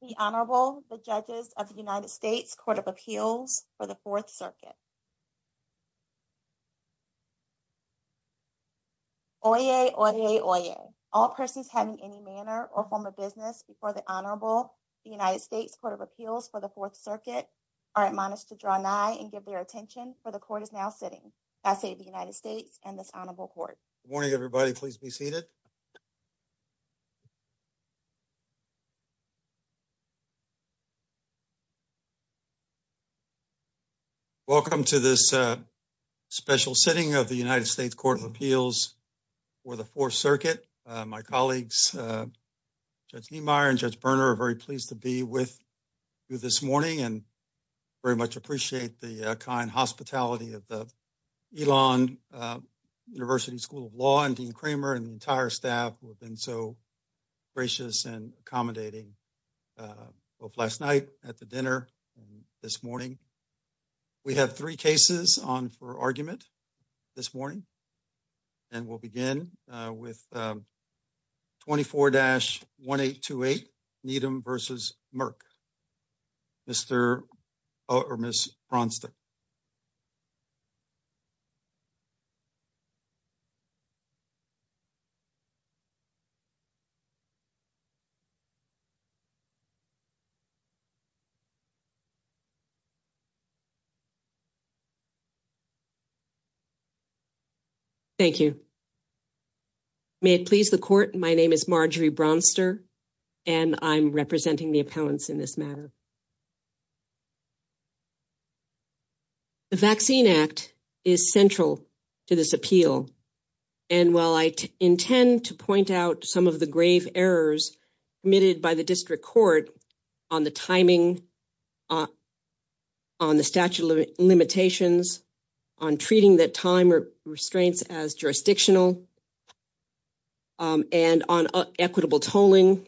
The Honorable, the Judges of the United States Court of Appeals for the Fourth Circuit. Oyez, oyez, oyez. All persons having any manner or form of business before the Honorable, the United States Court of Appeals for the Fourth Circuit are admonished to draw nigh and give their attention for the Court is now sitting. I say to the United States and this Honorable Court. Morning, everybody. Please be seated. Welcome to this special sitting of the United States Court of Appeals for the Fourth Circuit. My colleagues, Judge Niemeyer and Judge Berner are very pleased to be with you this morning and very much appreciate the kind hospitality of the Elon University School of Law and Dean Kramer and the entire staff who have been so gracious and accommodating both last night at the dinner and this morning. We have three cases on for argument this morning and we'll begin with 24-1828 Needham v. Merck. Mr. or Ms. Bronstein. Thank you. May it please the Court. My name is Marjorie Bronster and I'm representing the appellants in this matter. The Vaccine Act is central to this appeal and while I intend to point out some of the grave errors committed by the District Court on the timing, on the statute of limitations, on treating the time restraints as jurisdictional, and on equitable tolling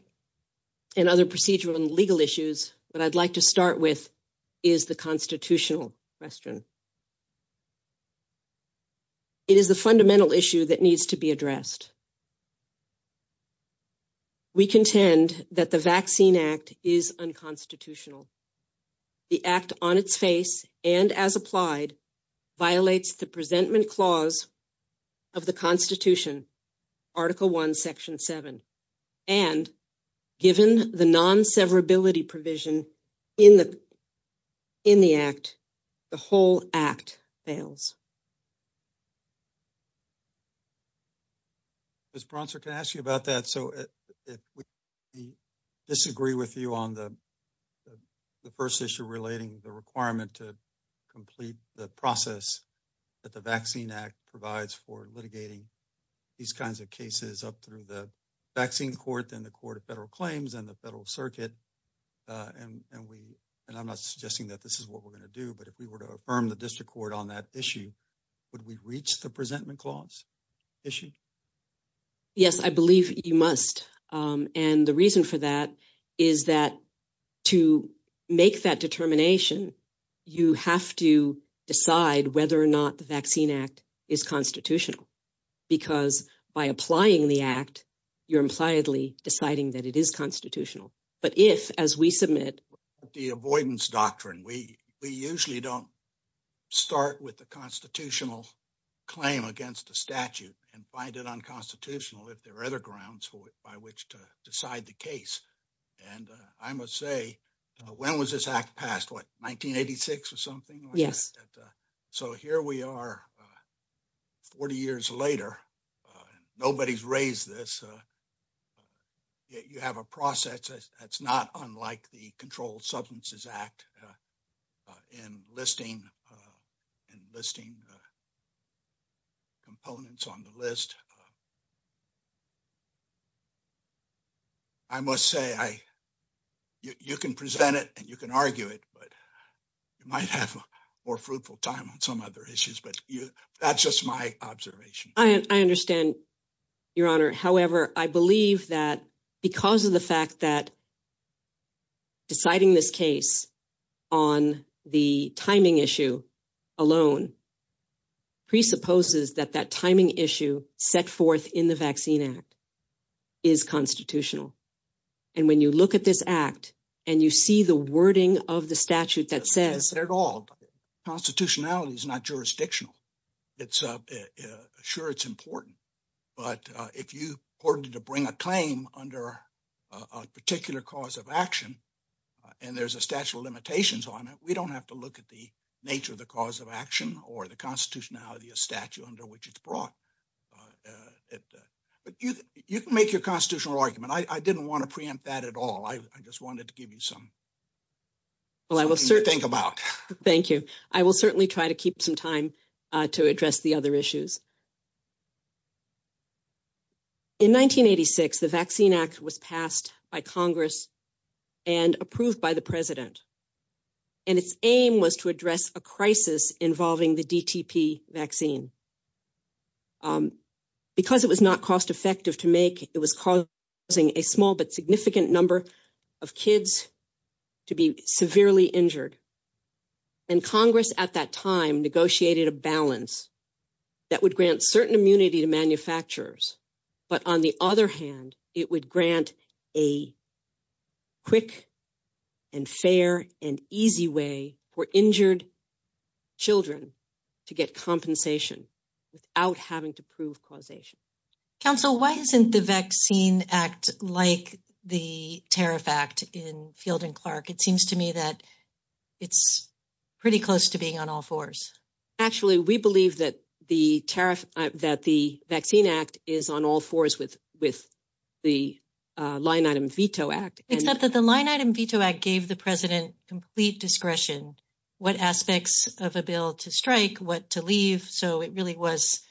and other procedural and legal issues, what I'd like to start with is the constitutional question. It is the fundamental issue that needs to be addressed. We contend that the Vaccine Act is unconstitutional. The Act on its face and as applied violates the presentment clause of the Constitution, Article 1, Section 7, and given the non-severability provision in the Act, the whole Act fails. Ms. Bronster, can I ask you about that? So, if we disagree with you on the first issue relating the requirement to complete the process that the Vaccine Act provides for litigating these kinds of cases up through the Vaccine Court, then the Court of Federal Claims, and the Federal Circuit, and we, and I'm not suggesting that this is what we're going to do, but if we were to affirm the Court on that issue, would we reach the presentment clause issue? Yes, I believe you must, and the reason for that is that to make that determination, you have to decide whether or not the Vaccine Act is constitutional, because by applying the Act, you're impliedly deciding that it is constitutional, but if, as we submit the avoidance doctrine, we usually don't start with the constitutional claim against the statute and find it unconstitutional if there are other grounds by which to decide the case, and I must say, when was this Act passed? What, 1986 or something? Yes. So, here we are 40 years later. Nobody's raised this. You have a process that's not unlike the Controlled Substances Act in listing components on the list. I must say, I, you can present it and you can argue it, but you might have a more fruitful time on some other issues, but you, that's just my observation. I understand, Your Honor. However, I believe that because of the fact that deciding this case on the timing issue alone presupposes that that timing issue set forth in the Vaccine Act is constitutional, and when you look at this Act and you see the wording of the statute that says... Constitutionality is not jurisdictional. It's, sure, it's important, but if you ordered to bring a claim under a particular cause of action and there's a statute of the constitutionality, a statute under which it's brought, but you can make your constitutional argument. I didn't want to preempt that at all. I just wanted to give you something to think about. Thank you. I will certainly try to keep some time to address the other issues. In 1986, the Vaccine Act was passed by Congress and approved by the President, and its aim was to address a crisis involving the DTP vaccine. Because it was not cost effective to make, it was causing a small but significant number of kids to be severely injured, and Congress at that time negotiated a balance that would grant certain immunity to manufacturers, but on the other hand, it would grant a quick and fair and easy way for injured children to get compensation without having to prove causation. Council, why isn't the Vaccine Act like the Tariff Act in Field and Clark? It seems to me that it's pretty close to being on all fours. Actually, we believe that the Tariff, that the Vaccine Act is on all fours with the Line Item Veto Act. Except that the Line Item Veto Act gave the President complete discretion, what aspects of a bill to strike, what to leave, so it really was,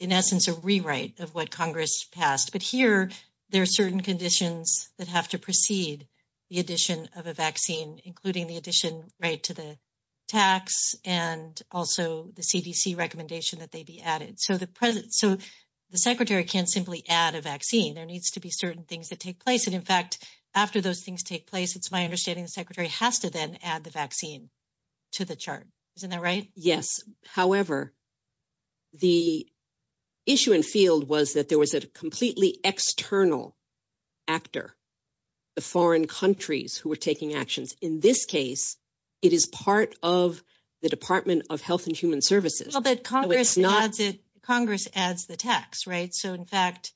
in essence, a rewrite of what Congress passed. But here, there are certain conditions that have to precede the addition of a vaccine, including the addition right to the tax and also the CDC recommendation that they be added. So the Secretary can't simply add a vaccine. There needs to be certain things that take place, and in fact, after those things take place, it's my understanding the Secretary has to then add the vaccine to the chart. Isn't that right? Yes. However, the issue in Field was that there was a completely external actor, the foreign countries who were taking actions. In this case, it is part of the Department of Health and Human Services. Well, but Congress adds the tax, right? So in fact,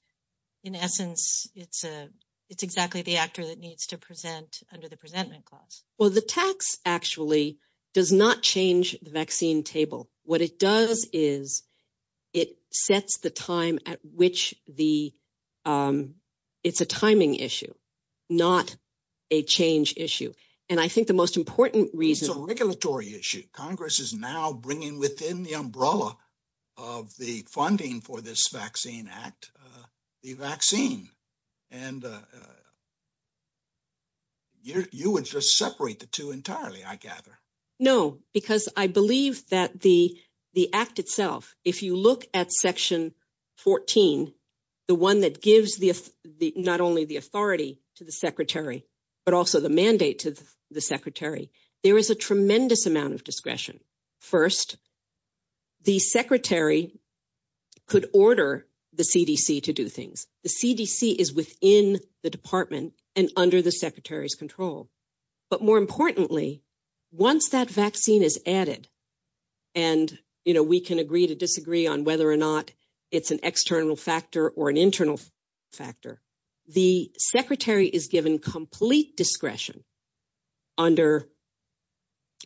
in essence, it's exactly the actor that needs to present under the Presentment Clause. Well, the tax actually does not change the vaccine table. What it does is it sets the time at which the, um, it's a timing issue, not a change issue. And I think the most important reason- It's a regulatory issue. Congress is now bringing within the umbrella of the funding for this Vaccine Act, the vaccine. And you would just separate the two entirely, I gather. No, because I believe that the Act itself, if you look at Section 14, the one that gives not only the authority to the Secretary, but also the mandate to the Secretary, there is a tremendous amount of discretion. First, the Secretary could order the CDC to do things. The CDC is within the Department and under the Secretary's control. But more importantly, once that vaccine is added, and, you know, we can agree to disagree on whether or not it's an external factor or an internal factor, the Secretary is given complete discretion under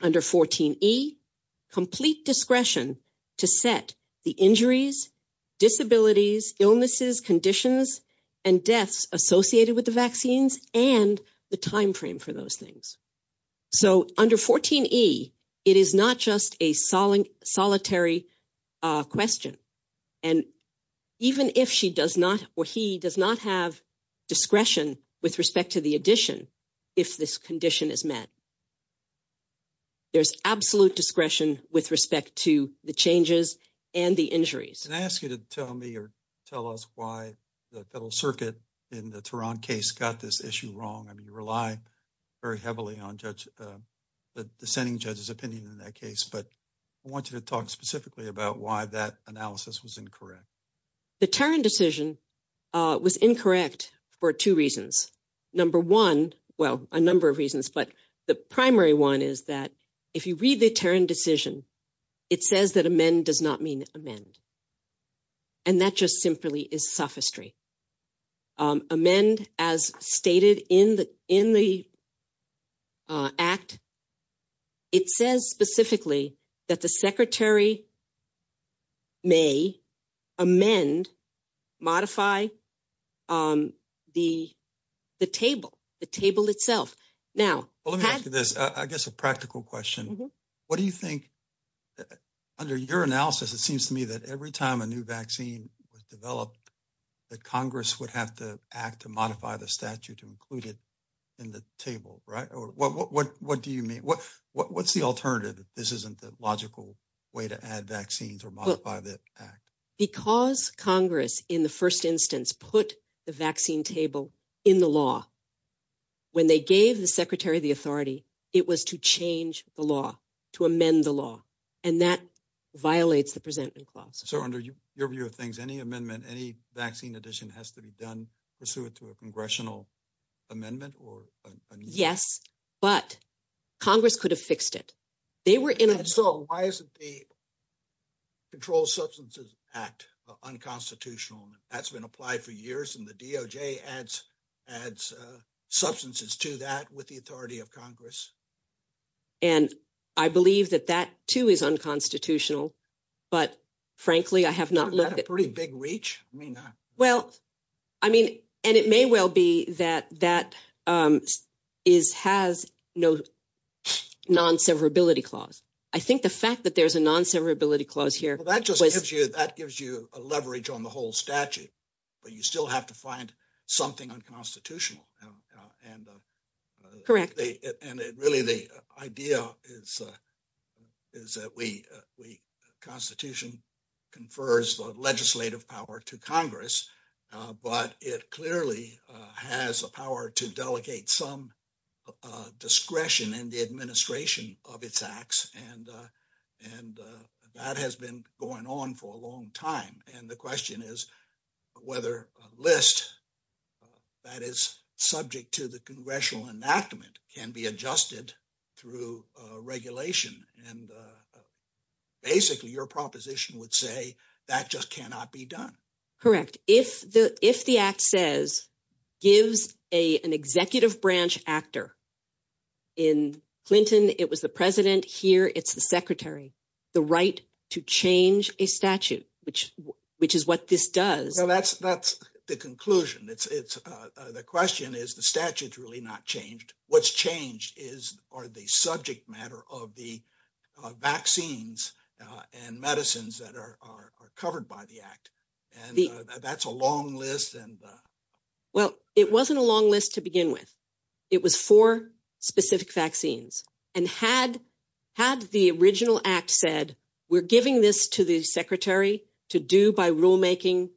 14E, complete discretion to set the injuries, disabilities, illnesses, conditions, and deaths associated with the vaccines and the timeframe for those things. So under 14E, it is not just a solitary question. And even if she does not or he does not have discretion with respect to the addition, if this condition is met, there's absolute discretion with respect to the changes and the injuries. Can I ask you to tell me or tell us why the Federal Circuit in the Tehran case got this issue wrong? I mean, you rely very heavily on the dissenting judge's opinion in that case, but I want you to talk specifically about why that analysis was incorrect. The Tehran decision was incorrect for two reasons. Number one, well, a number of reasons, but the primary one is that if you read the Tehran decision, it says that amend does not mean amend. And that just simply is sophistry. Amend as stated in the act, it says specifically that the Secretary may amend, modify the table, the table itself. Now- Well, let me ask you this, I guess a practical question. What do you think, under your analysis, it seems to me that every time a new vaccine was developed, that Congress would have to act to modify the statute to include it in the table, right? Or what do you mean? What's the alternative? This isn't the logical way to add vaccines or modify the act. Because Congress in the first instance put the vaccine table in the law, when they gave the Secretary the authority, it was to change the law, to amend the law. And that violates the presentment clause. So under your view of things, any amendment, any vaccine addition has to be done pursuant to a congressional amendment or- Yes, but Congress could have fixed it. They were in- So why isn't the Controlled Substances Act unconstitutional? That's been applied for years and the DOJ adds adds substances to that with the authority of Congress. And I believe that that too is unconstitutional, but frankly, I have not looked at- You've got a pretty big reach, I mean- Well, I mean, and it may well be that that has no non-severability clause. I think the fact that there's a non-severability clause here- Well, that just gives you a leverage on the whole statute, but you still have to find something unconstitutional. And- Correct. And it really, the idea is that we constitution confers the legislative power to Congress, but it clearly has a power to delegate some discretion in the administration of its acts. And that has been going on for a long time. And the question is whether a list that is subject to the congressional enactment can be adjusted through regulation. And basically, your proposition would say that just cannot be done. Correct. If the act says, gives an executive branch actor, in Clinton, it was the president, here, it's the secretary, the right to change a statute, which is what this does. Well, that's the conclusion. The question is the statute's really not changed. What's changed is, are they subject matter of the vaccines and medicines that are covered by the act? And that's a long list and- Well, it wasn't a long list to begin with. It was for specific vaccines. And had the original act said, we're giving this to the secretary to do by rulemaking,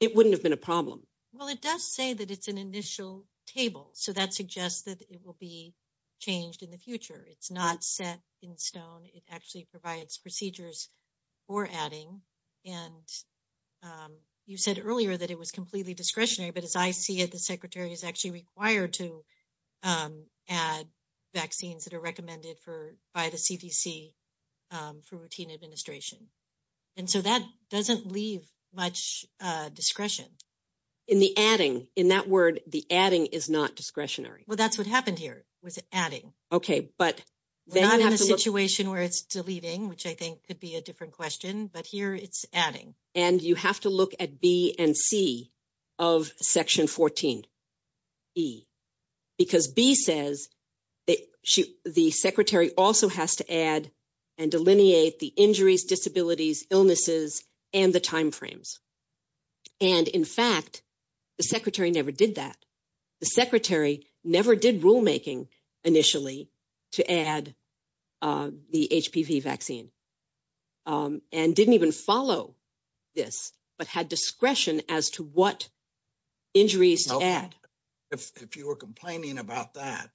it wouldn't have been a problem. Well, it does say that it's an initial table. So that suggests that it will be changed in the future. It's not set in stone. It actually provides procedures for adding. And you said earlier that it was completely discretionary, but as I see it, the secretary is actually required to add vaccines that are recommended by the CDC for routine administration. And so that doesn't leave much discretion. In the adding, in that word, the adding is not discretionary. Well, that's what happened here, was adding. Okay, but- We're not in a situation where it's deleting, which I think could be a different question, but here it's adding. And you have to look at B and C of section 14E, because B says the secretary also has to add and delineate the injuries, disabilities, illnesses, and the timeframes. And in fact, the secretary never did that. The secretary never did rulemaking initially to add the HPV vaccine and didn't even follow this, but had discretion as to what injuries to add. If you were complaining about that,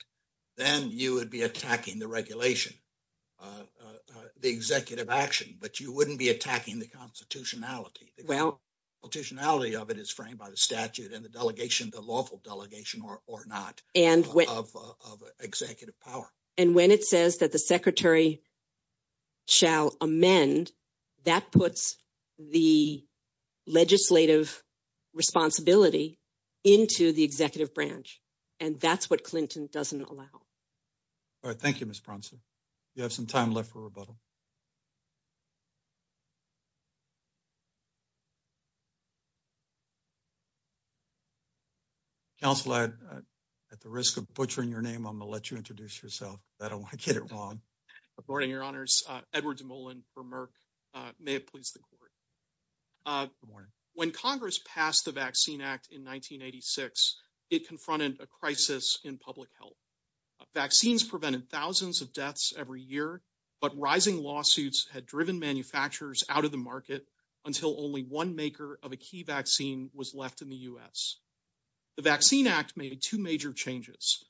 then you would be attacking the regulation, the executive action, but you wouldn't be attacking the constitutionality. The constitutionality of it is framed by the statute and the delegation, the lawful delegation or not, of executive power. And when it says that the secretary shall amend, that puts the legislative responsibility into the executive branch. And that's what Clinton doesn't allow. All right. Thank you, Ms. Bronson. You have some time left for rebuttal. Counselor, at the risk of butchering your name, I'm going to let you introduce yourself. I don't want to get it wrong. Good morning, Your Honors. Edward DeMolin for Merck. May it please the court. When Congress passed the Vaccine Act in 1986, it confronted a crisis in public health. Vaccines prevented thousands of deaths every year, but rising lawsuits had driven manufacturers out the market until only one maker of a key vaccine was left in the U.S. The Vaccine Act made two major changes.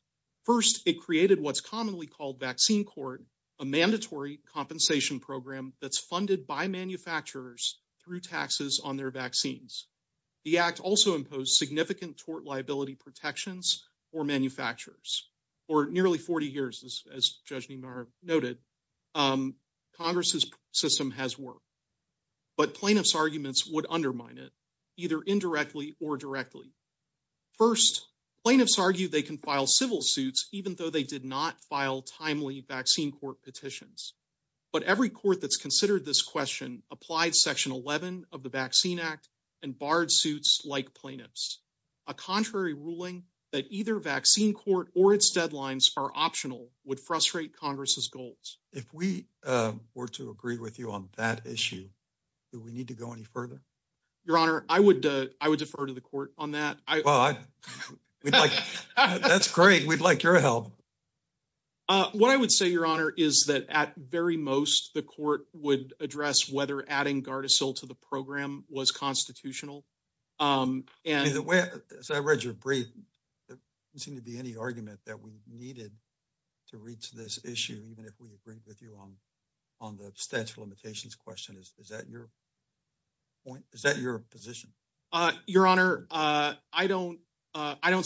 First, it created what's commonly called Vaccine Court, a mandatory compensation program that's funded by manufacturers through taxes on their vaccines. The act also imposed significant tort liability protections for manufacturers. For nearly 40 years, as Judge Niemeyer noted, Congress's system has worked. But plaintiff's arguments would undermine it, either indirectly or directly. First, plaintiffs argue they can file civil suits even though they did not file timely Vaccine Court petitions. But every court that's considered this question applied Section 11 of the Vaccine Act and barred suits like plaintiff's. A contrary ruling that either Vaccine Court or its deadlines are optional would frustrate Congress's goals. If we were to agree with you on that issue, do we need to go any further? Your Honor, I would defer to the court on that. That's great. We'd like your help. What I would say, Your Honor, is that at very most, the court would address whether adding Gardasil to the program was constitutional. As I read your brief, there didn't seem to be any argument that we needed to reach this issue, even if we agreed with you on the statute of limitations question. Is that your point? Is that your position? Your Honor, I don't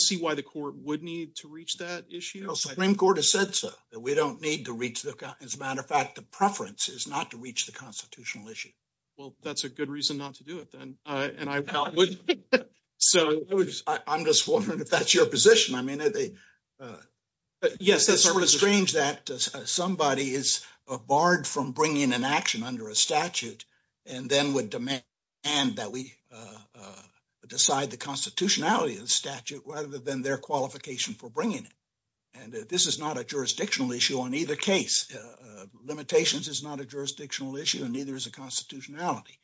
see why the court would need to reach that issue. Supreme Court has said so, that we don't need to reach that. As a matter of fact, the preference is not to reach the constitutional issue. Well, that's a good reason not to do it then. I'm just wondering if that's your position. Yes, it's sort of strange that somebody is barred from bringing an action under a statute and then would demand that we decide the constitutionality of the statute rather than their qualification for bringing it. This is not a jurisdictional issue on either case. Limitations is not a jurisdictional issue and neither is a constitutionality.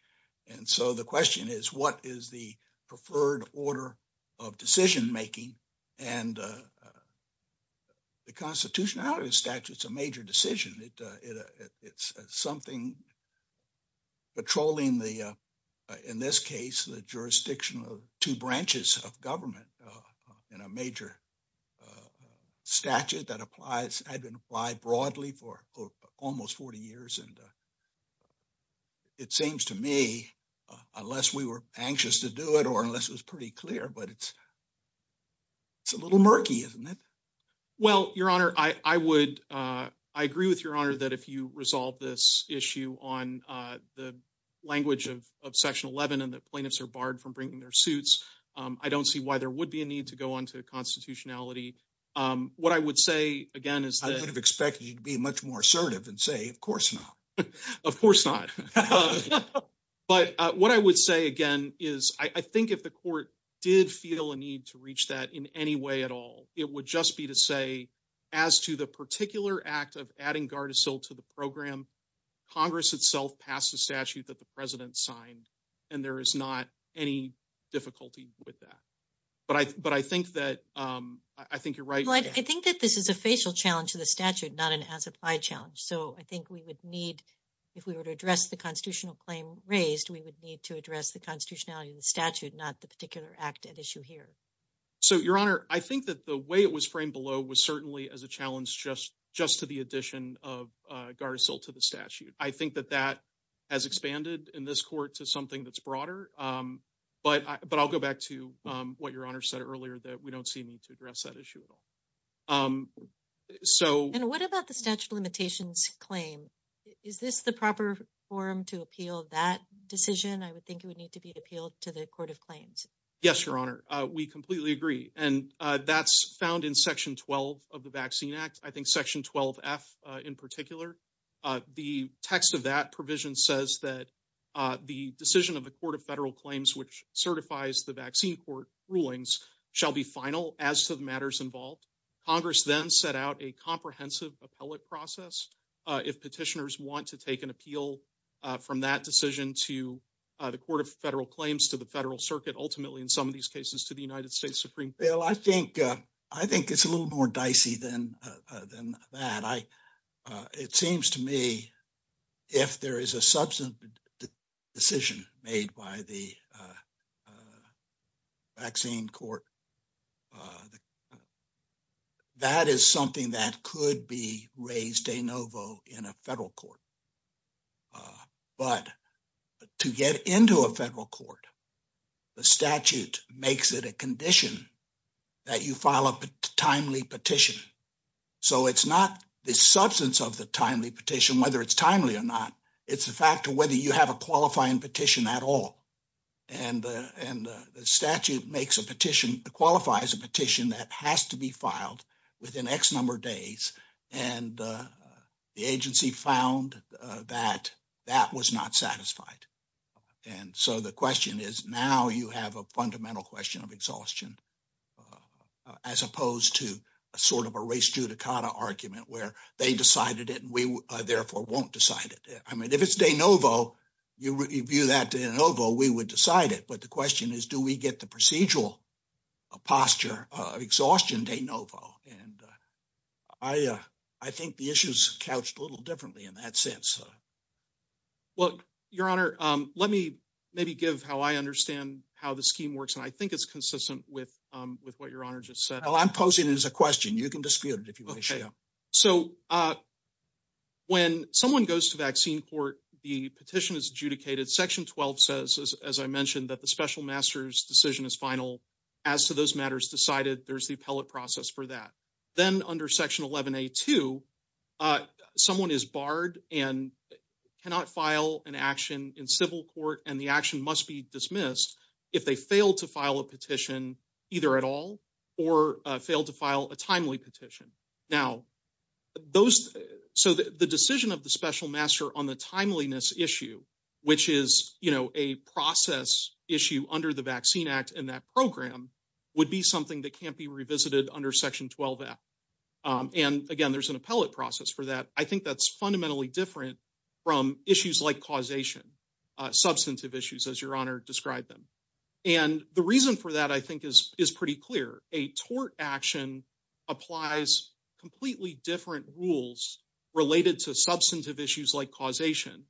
And so the question is, what is the preferred order of decision making? And the constitutionality of the statute is a major decision. It's something patrolling the, in this case, the jurisdiction of two branches of government in a major statute that applies, had been applied broadly for almost 40 years. And it seems to me, unless we were anxious to do it or unless it was pretty clear, but it's a little murky, isn't it? Well, Your Honor, I agree with Your Honor that if you resolve this issue on the language of Section 11 and that plaintiffs are barred from bringing their suits, I don't see why there would be a need to go on to constitutionality. What I would say, again, is that I would have expected you to be much more assertive and say, of course not. Of course not. But what I would say, again, is I think if the court did feel a need to reach that in any way at all, it would just be to say, as to the particular act of adding Gardasil to the program, Congress itself passed a statute that the President signed and there is not any difficulty with that. But I think that you're right. I think that this is a facial challenge to the statute, not an as-applied challenge. So I think we would need, if we were to address the constitutional claim raised, we would need to address the constitutionality of the statute, not the particular act at issue here. So, Your Honor, I think that the way it was framed below was certainly as a challenge just to the addition of Gardasil to the statute. I think that that has expanded in this court to something that's broader. But I'll go back to what Your Honor said earlier, that we don't see a need to address that issue at all. And what about the statute limitations claim? Is this the proper forum to appeal that decision? I would think it would need to be appealed to the Court of Claims. Yes, Your Honor. We completely agree. And that's found in Section 12 of the Vaccine Act. I think Section 12F in particular. The text of that provision says that the decision of the Court of Federal Claims, which certifies the vaccine court rulings, shall be final as to the matters involved. Congress then set out a comprehensive appellate process if petitioners want to take an appeal from that decision to the Court of Federal Claims, to the Federal Circuit, ultimately in some of these cases to the United States Supreme Court. Well, I think it's a little more dicey than that. It seems to me if there is a substantive decision made by the vaccine court, that is something that could be raised de novo in a federal court. But to get into a federal court, the statute makes it a condition that you file a timely petition. So it's not the substance of the timely petition, whether it's timely or not, it's the fact of whether you have a qualifying petition at all. And the statute qualifies a has to be filed within X number of days. And the agency found that that was not satisfied. And so the question is now you have a fundamental question of exhaustion as opposed to a sort of a race judicata argument where they decided it and we therefore won't decide it. I mean, if it's de novo, you review that de novo, we would decide it. But the question is, do we get the procedural posture of exhaustion de novo? And I think the issue is couched a little differently in that sense. Well, your honor, let me maybe give how I understand how the scheme works. And I think it's consistent with what your honor just said. Well, I'm posing as a question, you can dispute it if you wish. So when someone goes to vaccine court, the petition is adjudicated. Section 12 says, as I mentioned, that the special master's decision is final. As to those matters decided, there's the appellate process for that. Then under section 11A2, someone is barred and cannot file an action in civil court and the action must be dismissed if they fail to file a petition either at all or fail to file a timely petition. Now, those so the decision of the special master on the timeliness issue, which is, you know, a process issue under the Vaccine Act and that program would be something that can't be revisited under section 12. And again, there's an appellate process for that. I think that's fundamentally different from issues like causation, substantive issues, as your honor described them. And the reason for that, I think is is pretty clear. A tort action applies completely different rules related to substantive issues like causation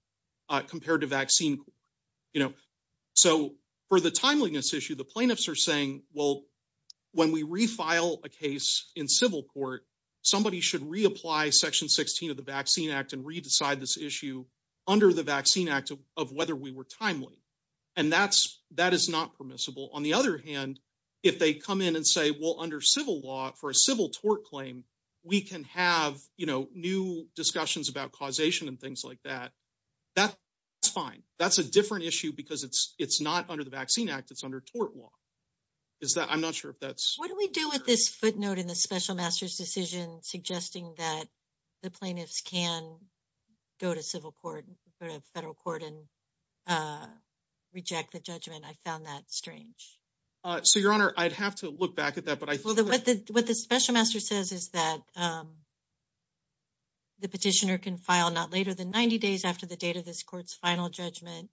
compared to vaccine, you know. So for the timeliness issue, the plaintiffs are saying, well, when we refile a case in civil court, somebody should reapply section 16 of the Vaccine Act and re-decide this issue under the Vaccine Act of whether we were timely. And that's that is not permissible. On the other hand, if they come in and say, well, under civil law for a civil tort claim, we can have, you know, new discussions about causation and things like that. That's fine. That's a different issue because it's it's not under the Vaccine Act. It's under tort law. Is that I'm not sure if that's what we do with this footnote in the special master's decision suggesting that the plaintiffs can go to civil court or a federal court and reject the judgment. I found that strange. So, your honor, I'd have to look back at that. But what the special master says is that the petitioner can file not later than 90 days after the date of this court's final judgment,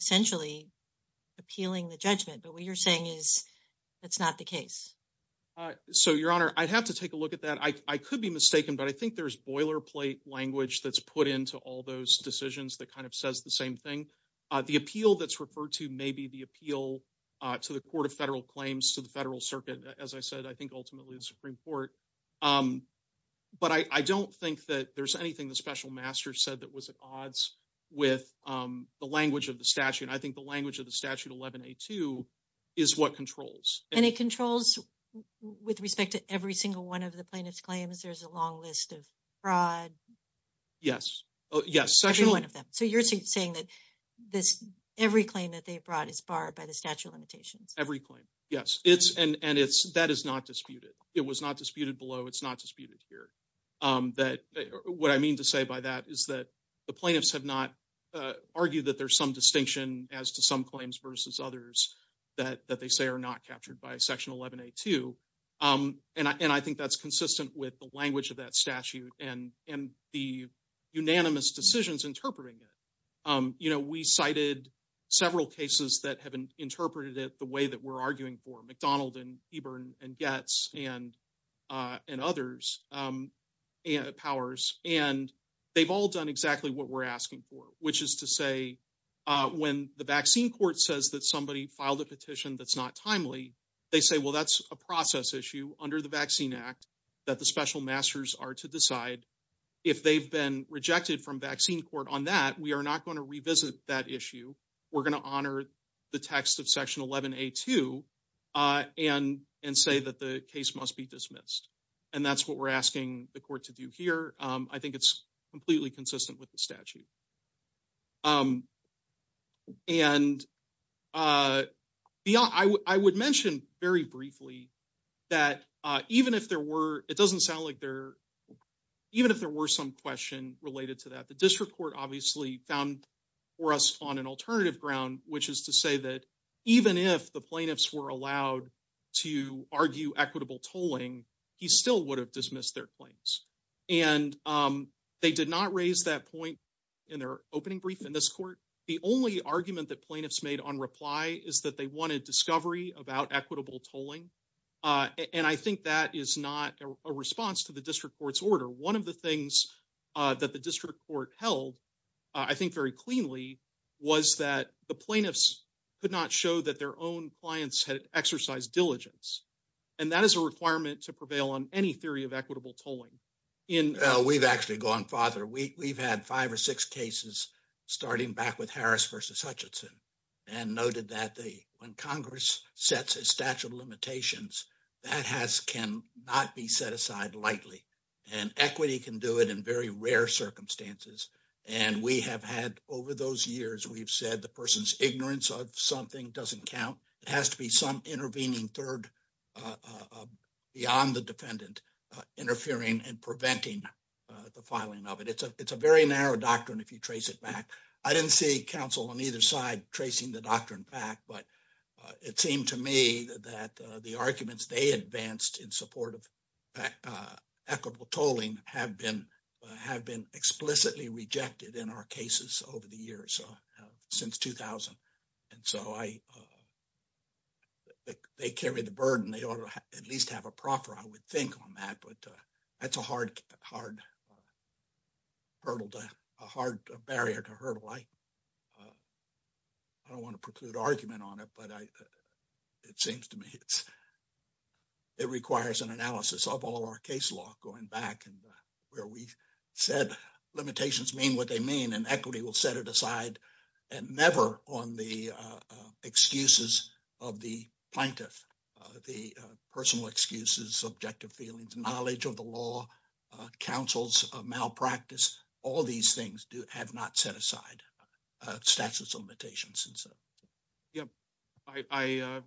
essentially appealing the judgment. But what you're saying is that's not the case. So, your honor, I'd have to take a look at that. I could be mistaken, but I think there's boilerplate language that's put into all those decisions that kind of says the same thing. The appeal that's referred to may be the appeal to the Court of Federal Claims, to the Federal Circuit, as I said, I think ultimately the Supreme Court. But I don't think that there's anything the special master said that was at odds with the language of the statute. I think the language of the statute 11-A-2 is what controls. And it controls with respect to every single one of the plaintiff's claims. There's a long list of fraud. Yes. Yes. Every one of them. So, you're saying that every claim that they've brought is barred by the statute of limitations? Every claim. Yes. And that is not disputed. It was not disputed below. It's not disputed here. What I mean to say by that is that the plaintiffs have not argued that there's some distinction as to some claims versus others that they say are not captured by section 11-A-2. And I think that's consistent with the language of that statute and the unanimous decisions interpreting it. You know, we cited several cases that have interpreted it the way that we're arguing for. McDonald and Heber and Goetz and others, and Powers. And they've all done exactly what we're asking for, which is to say when the vaccine court says that somebody filed a petition that's not timely, they say, well, that's a process issue under the Vaccine Act that the special masters are to decide. If they've been rejected from vaccine court on that, we are not going to revisit that issue. We're going to honor the text of section 11-A-2 and say that the case must be dismissed. And that's what we're asking the court to do here. I think it's completely consistent with the statute. And I would mention very briefly that even if there were, it doesn't sound like there, even if there were some question related to that, the district court obviously found for us on an alternative ground, which is to say that even if the plaintiffs were allowed to argue equitable tolling, he still would have dismissed their claims. And they did not raise that point in their opening brief in this court. The only argument that plaintiffs made on reply is that they wanted discovery about equitable tolling. And I think that is not a response to the district court's order. One of the things that the district court held, I think very cleanly, was that the plaintiffs could not show that their own clients had exercised diligence. And that is a requirement to prevail on any theory of equitable tolling. We've actually gone farther. We've had five or six cases starting back with Hutchinson and noted that when Congress sets a statute of limitations, that has cannot be set aside lightly. And equity can do it in very rare circumstances. And we have had over those years, we've said the person's ignorance of something doesn't count. It has to be some intervening third beyond the defendant interfering and preventing the filing of it. It's a very narrow doctrine if you trace it back. I didn't see counsel on either side tracing the doctrine back, but it seemed to me that the arguments they advanced in support of equitable tolling have been explicitly rejected in our cases over the years, since 2000. And so they carry the burden. They a hard barrier to hurdle. I don't want to preclude argument on it, but it seems to me it requires an analysis of all our case law going back and where we said limitations mean what they mean and equity will set it aside and never on the excuses of the plaintiff. The personal excuses, subjective feelings, knowledge of the law, counsel's malpractice, all these things do have not set aside statutes of limitations. And so, yeah, I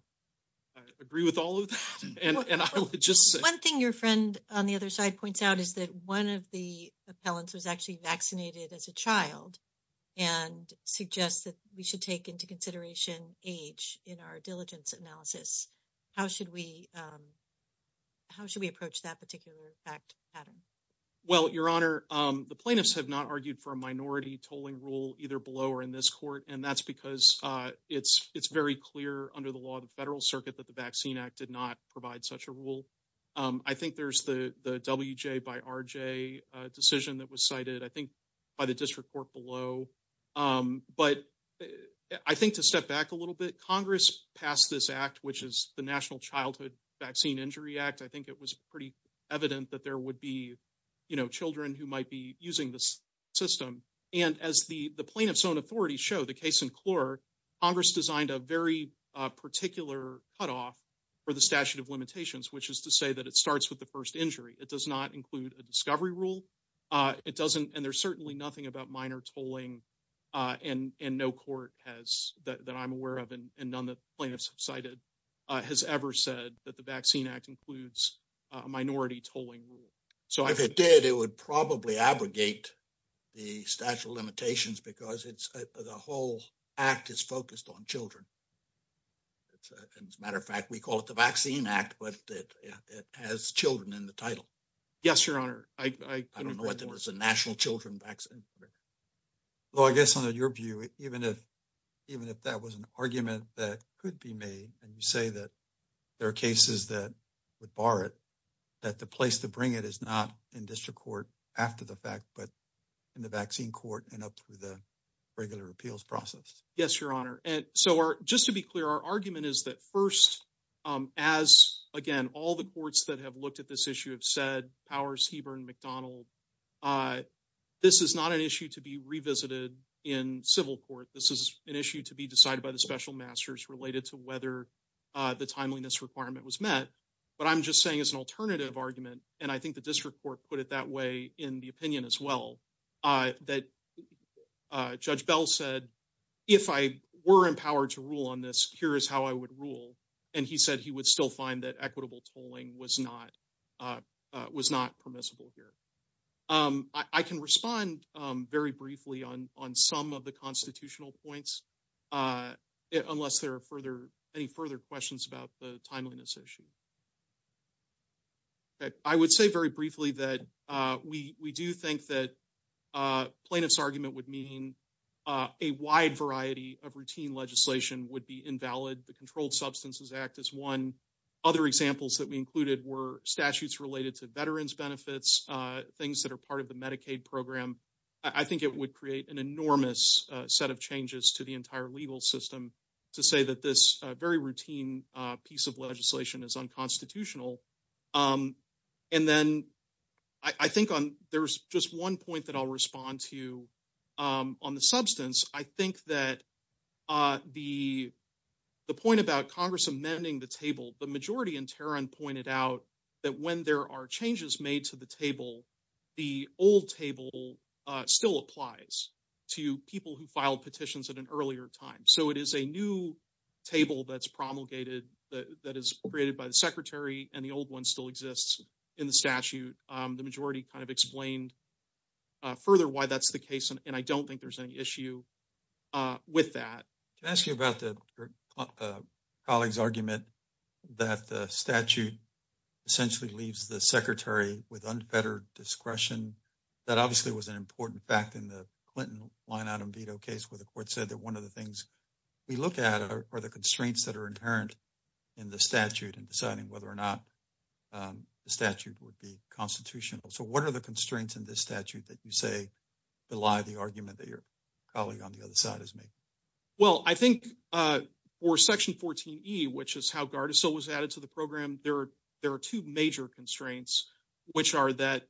agree with all of that. One thing your friend on the other side points out is that one of the appellants was actually vaccinated as a child and suggests that we should take into consideration age in our diligence analysis. How should we approach that particular fact pattern? Well, your honor, the plaintiffs have not argued for a minority tolling rule either below or in this court. And that's because it's very clear under the law of the federal circuit that the Vaccine Act did not provide such a rule. I think there's the WJ by RJ decision that was cited, I think, by the district court below. But I think to step back a little bit, Congress passed this act, which is the National Childhood Vaccine Injury Act. I think it was pretty evident that there would be, you know, children who might be using this system. And as the plaintiff's own authorities show, the case in Clure, Congress designed a very particular cutoff for the statute of limitations, which is to say that it starts with the first injury. It does not include a discovery rule. It doesn't, and there's certainly nothing about minor tolling and no court has that I'm aware of and none that plaintiffs have cited has ever said that the Vaccine Act includes a minority tolling rule. So if it did, it would probably abrogate the statute of limitations because it's the whole act is focused on children. And as a matter of fact, we call it the Vaccine Act, but it has children in title. Yes, Your Honor. I don't know what the National Children Vaccine. Well, I guess under your view, even if even if that was an argument that could be made and you say that there are cases that would bar it, that the place to bring it is not in district court after the fact, but in the vaccine court and up through the regular appeals process. Yes, Your Honor. And so just to be clear, our argument is that first, as again, all the courts that have looked at this issue have said Powers, Heber and McDonald, this is not an issue to be revisited in civil court. This is an issue to be decided by the special masters related to whether the timeliness requirement was met. But I'm just saying as an alternative argument, and I think the district court put it that way in the opinion as well, that Judge Bell said, if I were empowered to rule on this, here is how I would rule. And he said he would still find that equitable tolling was not permissible here. I can respond very briefly on some of the constitutional points, unless there are any further questions about the timeliness issue. I would say very briefly that we do think that plaintiff's argument would mean a wide variety of routine legislation would be invalid. The Controlled Substances Act is one. Other examples that we included were statutes related to veterans benefits, things that are part of the Medicaid program. I think it would create an enormous set of changes to the entire legal system to say that this very routine piece of legislation is unconstitutional. And then I think there's just one point that I'll respond to on the substance. I think that the point about Congress amending the table, the majority in Tarrant pointed out that when there are changes made to the table, the old table still applies to people who filed petitions at an earlier time. So it is a new table that's promulgated that is created by the secretary and the old one still exists in the statute. The majority kind of explained further why that's the case and I don't think there's any issue with that. Can I ask you about your colleague's argument that the statute essentially leaves the secretary with unfettered discretion? That obviously was an important fact in the Clinton line-out and veto case where the court said that one of the things we look at are the constraints that are inherent in the statute and deciding whether or not the statute would be constitutional. So what are the constraints in this statute that you say belie the argument that your colleague on the other side has made? Well, I think for Section 14E, which is how Gardasil was added to the program, there are two major constraints, which are that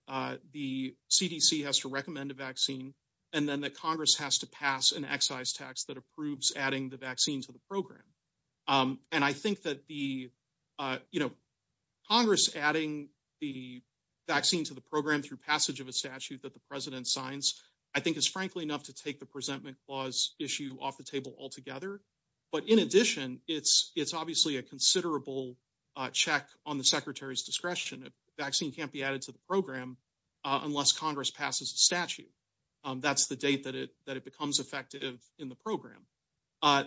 the CDC has to recommend a vaccine and then that Congress has to pass an excise tax that approves adding the vaccine to the program. And I think that the, you know, Congress adding the vaccine to the program through passage of a statute that the president signs, I think is frankly enough to take the presentment clause issue off the table altogether. But in addition, it's obviously a considerable check on the secretary's discretion. A vaccine can't be added to the program unless Congress passes a statute. That's the date that it becomes effective in the program.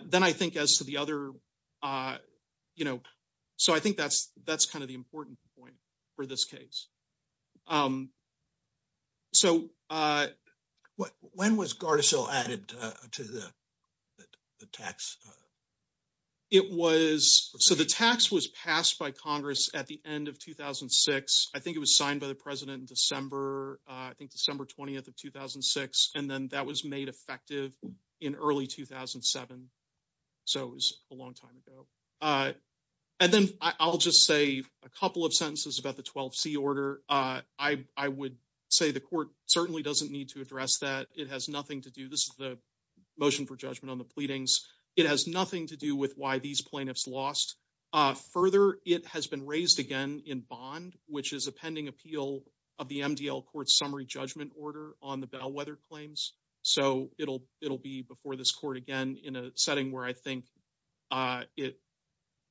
Then I think as to the other, you know, so I think that's kind of the important point for this case. So when was Gardasil added to the tax? It was, so the tax was passed by Congress at the end of 2006. I think it was signed by the president in December, I think December 20th of 2006. And then that was made effective in early 2007. So it was a long time ago. And then I'll just say a couple of sentences about the 12C order. I would say the court certainly doesn't need to address that. It has nothing to do, this is the motion for judgment on the pleadings, it has nothing to do with why these plaintiffs lost. Further, it has been raised again in bond, which is a pending appeal of the MDL court summary judgment order on the bellwether claims. So it'll be before this court again in a setting where I think it,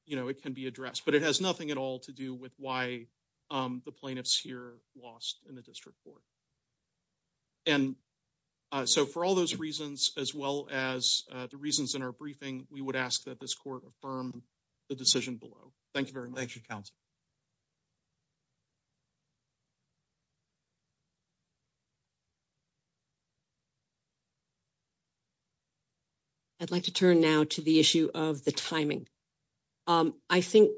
you know, it can be addressed. But it has nothing at all to do with why the plaintiffs here lost in the district court. And so for all those reasons, as well as the reasons in our briefing, we would ask that this court affirm the decision below. Thank you very much. I'd like to turn now to the issue of the timing. I think,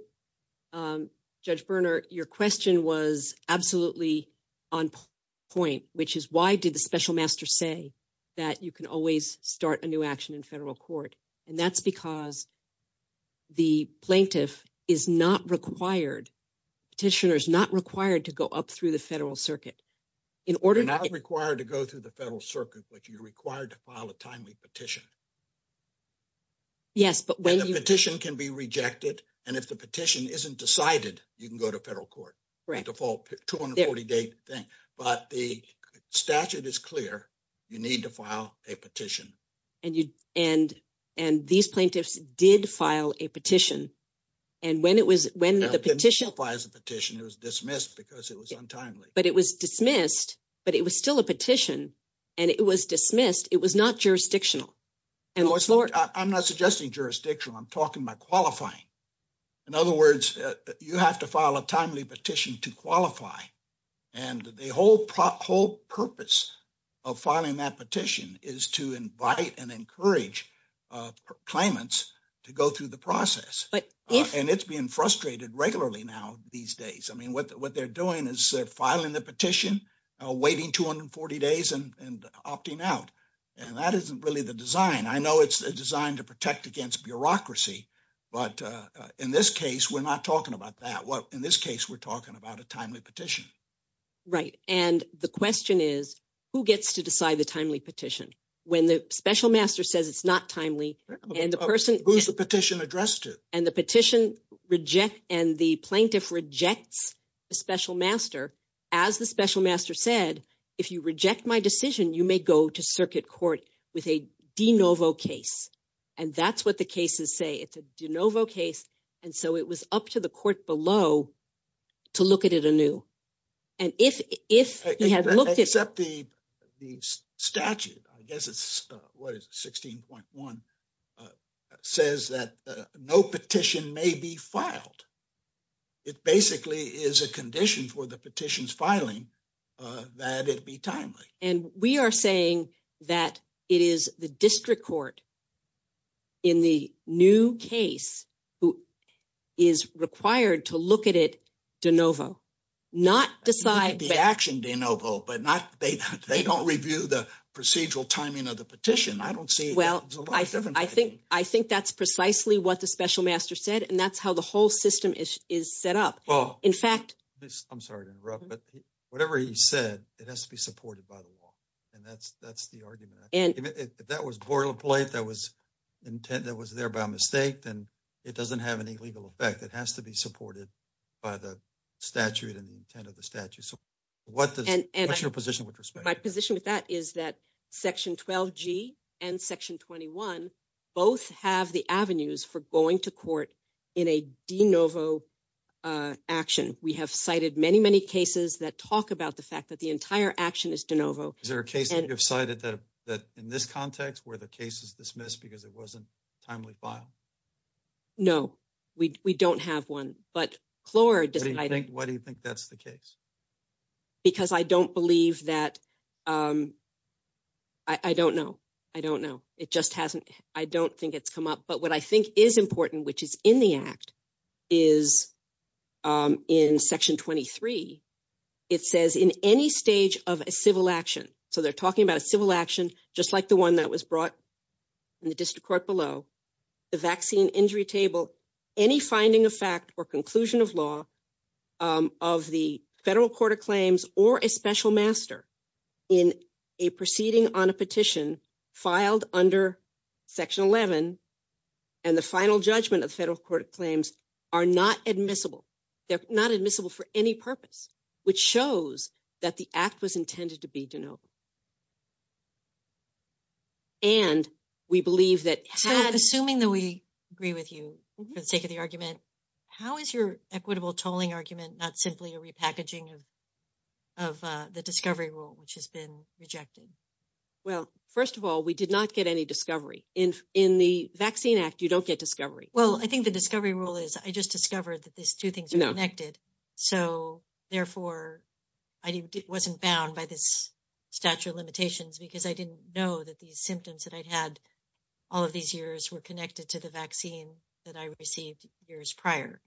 Judge Berner, your question was absolutely on point, which is why did the special master say that you can always start a new action in federal court? And that's because the plaintiff is not required, petitioner is not required to go up through the federal circuit. You're not required to go through the federal circuit, but you're required to file a timely petition. Yes, but when the petition can be rejected, and if the petition isn't decided, you can go to federal court, the default 240 day thing. But the statute is clear, you need to file a petition. And these plaintiffs did file a petition. And when it was when the petition was dismissed, because it was untimely, but it was dismissed, but it was still a petition. And it was dismissed, it was not jurisdictional. And I'm not suggesting jurisdictional, I'm talking about qualifying. In other words, you have to file a timely petition to qualify. And the whole purpose of filing that petition is to invite and encourage claimants to go through the process. And it's being frustrated regularly now these days. I mean, what they're doing is filing the petition, waiting 240 days and opting out. And that isn't really the design. I know it's designed to protect against bureaucracy. But in this case, we're not talking about that. In this case, we're talking about a timely petition. Right. And the question is, who gets to decide the timely petition? When the special master says it's not timely, and the person who's the petition addressed it, and the petition reject, and the plaintiff rejects a special master, as the special master said, if you reject my decision, you may go to circuit court with a de novo case. And that's what the say. It's a de novo case. And so it was up to the court below to look at it anew. And if they had looked at the statute, I guess it's what is 16.1 says that no petition may be filed. It basically is a condition for the petitions filing that it'd be timely. And we are saying that it is the district court in the new case who is required to look at it de novo, not decide the action de novo, but not they don't review the procedural timing of the petition. I don't see. Well, I think that's precisely what the special master said. And that's how the whole system is set up. Well, in fact, I'm sorry to interrupt, but whatever he said, it has to be supported by the law. And that's, that's the argument. And if that was boilerplate, that was intent that was there by mistake, then it doesn't have any legal effect. It has to be supported by the statute and the intent of the statute. So what does your position with respect to my position with that is that section 12 G and section 21, both have the avenues for going to court in a de novo action. We have cited many, many cases that talk about the fact that the entire action is de novo. Is there a case that you've cited that, that in this context where the case is dismissed because it wasn't timely file? No, we, we don't have one, but Florida, I think, why do you think that's the case? Because I don't believe that. I don't know. I don't know. It just hasn't, I don't think it's come up, but what I think is important, which is in the act is in section 23, it says in any stage of a civil action. So they're talking about a civil action, just like the one that was brought in the district court below the vaccine injury table, any finding of fact or conclusion of law of the federal court of claims or a special master in a proceeding on a petition filed under section 11. And the final judgment of federal court claims are not admissible. They're not admissible for any purpose, which shows that the act was intended to be de novo. And we believe that assuming that we agree with you for the sake of the argument, how is your equitable tolling argument, not simply a repackaging of, of the discovery rule, which has been rejected? Well, first of all, we did not get any discovery in, in the vaccine act. You don't get discovery. Well, I think the discovery rule is I just discovered that these two things are connected. So therefore I wasn't bound by this statute of limitations because I didn't know that these symptoms that I'd had all of these years were connected to the vaccine that I received years prior.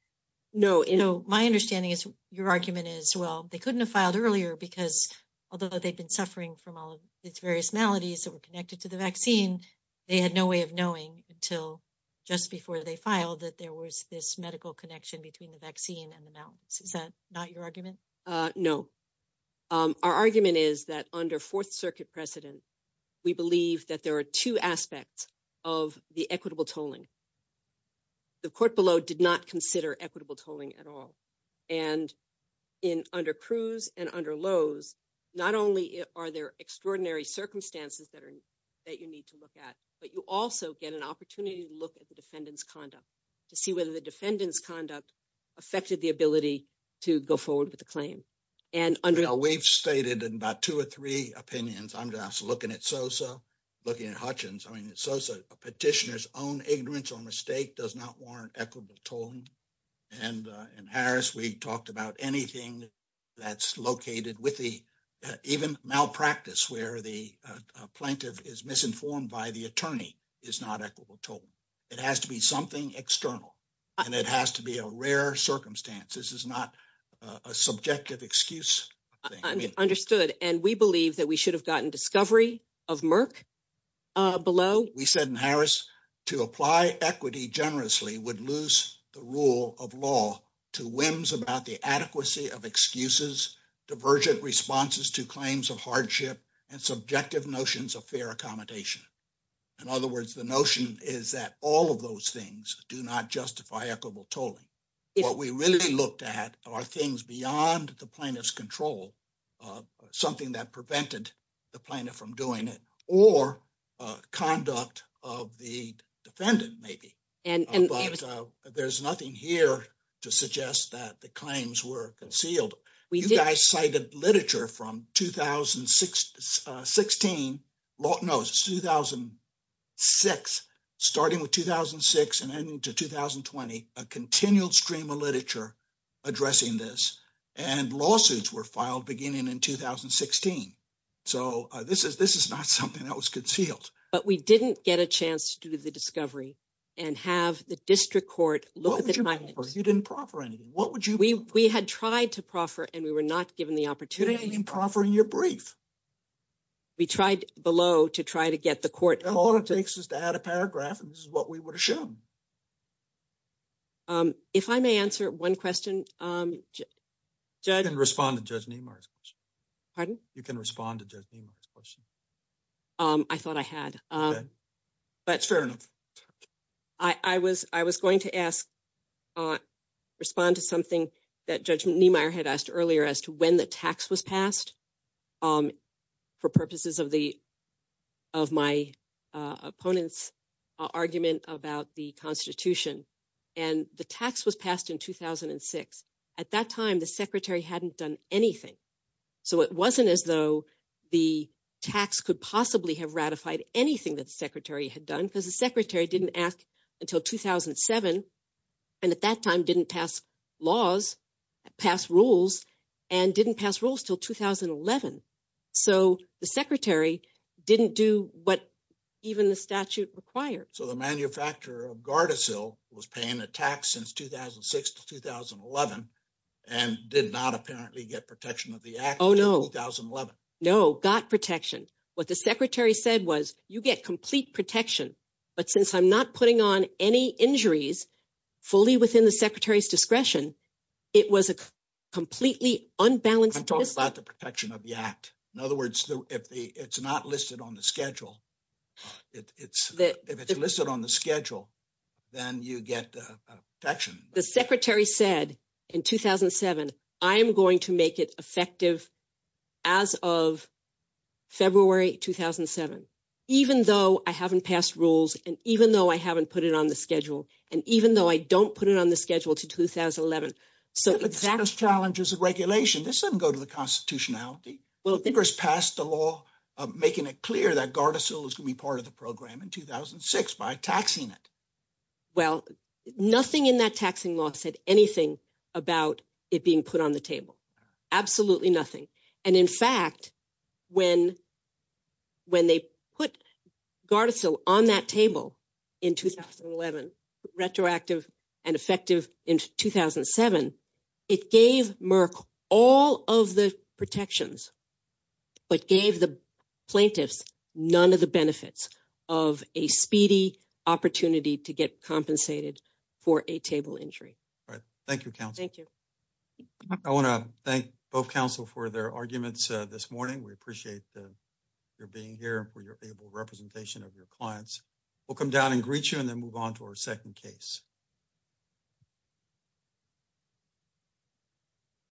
No, no. My understanding is your argument is, well, they couldn't have filed earlier because although they'd been suffering from all of its various maladies that were before they filed that there was this medical connection between the vaccine and the mountains. Is that not your argument? Uh, no. Um, our argument is that under fourth circuit precedent, we believe that there are two aspects of the equitable tolling. The court below did not consider equitable tolling at all. And in under Cruz and under Lowe's, not only are there extraordinary circumstances that are, that you need to look at, but you also get an opportunity to look at the defendant's conduct to see whether the defendant's conduct affected the ability to go forward with the claim. And under, we've stated in about two or three opinions, I'm just looking at Sosa, looking at Hutchins. I mean, it's Sosa, a petitioner's own ignorance or mistake does not warrant equitable tolling. And, uh, in Harris, we talked about anything that's located with the, even malpractice where the plaintiff is misinformed by the attorney is not equitable tolling. It has to be something external and it has to be a rare circumstance. This is not a subjective excuse thing. Understood. And we believe that we should have gotten discovery of Merck below. We said in Harris to apply equity generously would lose the rule of law to whims about the adequacy of excuses, divergent responses to claims of hardship, and subjective notions of fair accommodation. In other words, the notion is that all of those things do not justify equitable tolling. What we really looked at are things beyond the plaintiff's control, something that prevented the plaintiff from doing it or conduct of the defendant maybe. And there's nothing here to suggest that the claims were concealed. You guys cited literature from 2016, no, it's 2006, starting with 2006 and ending to 2020, a continual stream of literature addressing this and lawsuits were filed beginning in 2016. So this is not something that was district court. You didn't proffer anything. We had tried to proffer and we were not given the opportunity. You didn't even proffer in your brief. We tried below to try to get the court. All it takes is to add a paragraph and this is what we would have shown. If I may answer one question. You can respond to Judge Niemeyer's question. Pardon? You can respond to Judge Niemeyer's question. Um, I thought I had, um, but it's fair enough. I, I was, I was going to ask, uh, respond to something that Judge Niemeyer had asked earlier as to when the tax was passed. Um, for purposes of the, of my, uh, opponent's argument about the constitution and the tax was passed in 2006. At that time, the secretary hadn't done anything. So it wasn't as though the tax could possibly have ratified anything that the secretary had done because the secretary didn't ask until 2007 and at that time didn't pass laws, pass rules, and didn't pass rules till 2011. So the secretary didn't do what even the statute required. So the manufacturer of Gardasil was paying a tax since 2006 to 2011 and did not apparently get protection of the act. No, got protection. What the secretary said was you get complete protection, but since I'm not putting on any injuries fully within the secretary's discretion, it was a completely unbalanced. I'm talking about the protection of the act. In other words, if the, it's not listed on the schedule, it's, if it's listed on the schedule, then you get a protection. The secretary said in 2007, I am going to make it effective as of February, 2007, even though I haven't passed rules. And even though I haven't put it on the schedule and even though I don't put it on the schedule to 2011. So exact challenges of regulation, this doesn't go to the constitutionality. Well, Congress passed a law making it clear that Gardasil is going to be part of the program in 2006 by taxing it. Well, nothing in that taxing law said anything about it being put on the table. Absolutely nothing. And in fact, when, when they put Gardasil on that table in 2011, retroactive and effective in 2007, it gave Merck all of the protections, but gave the plaintiffs none of the benefits of a speedy opportunity to get compensated for a table injury. All right. Thank you, counsel. Thank you. I want to thank both counsel for their arguments this morning. We appreciate the, your being here for your able representation of your clients. We'll come down and greet you and then move on to our second case.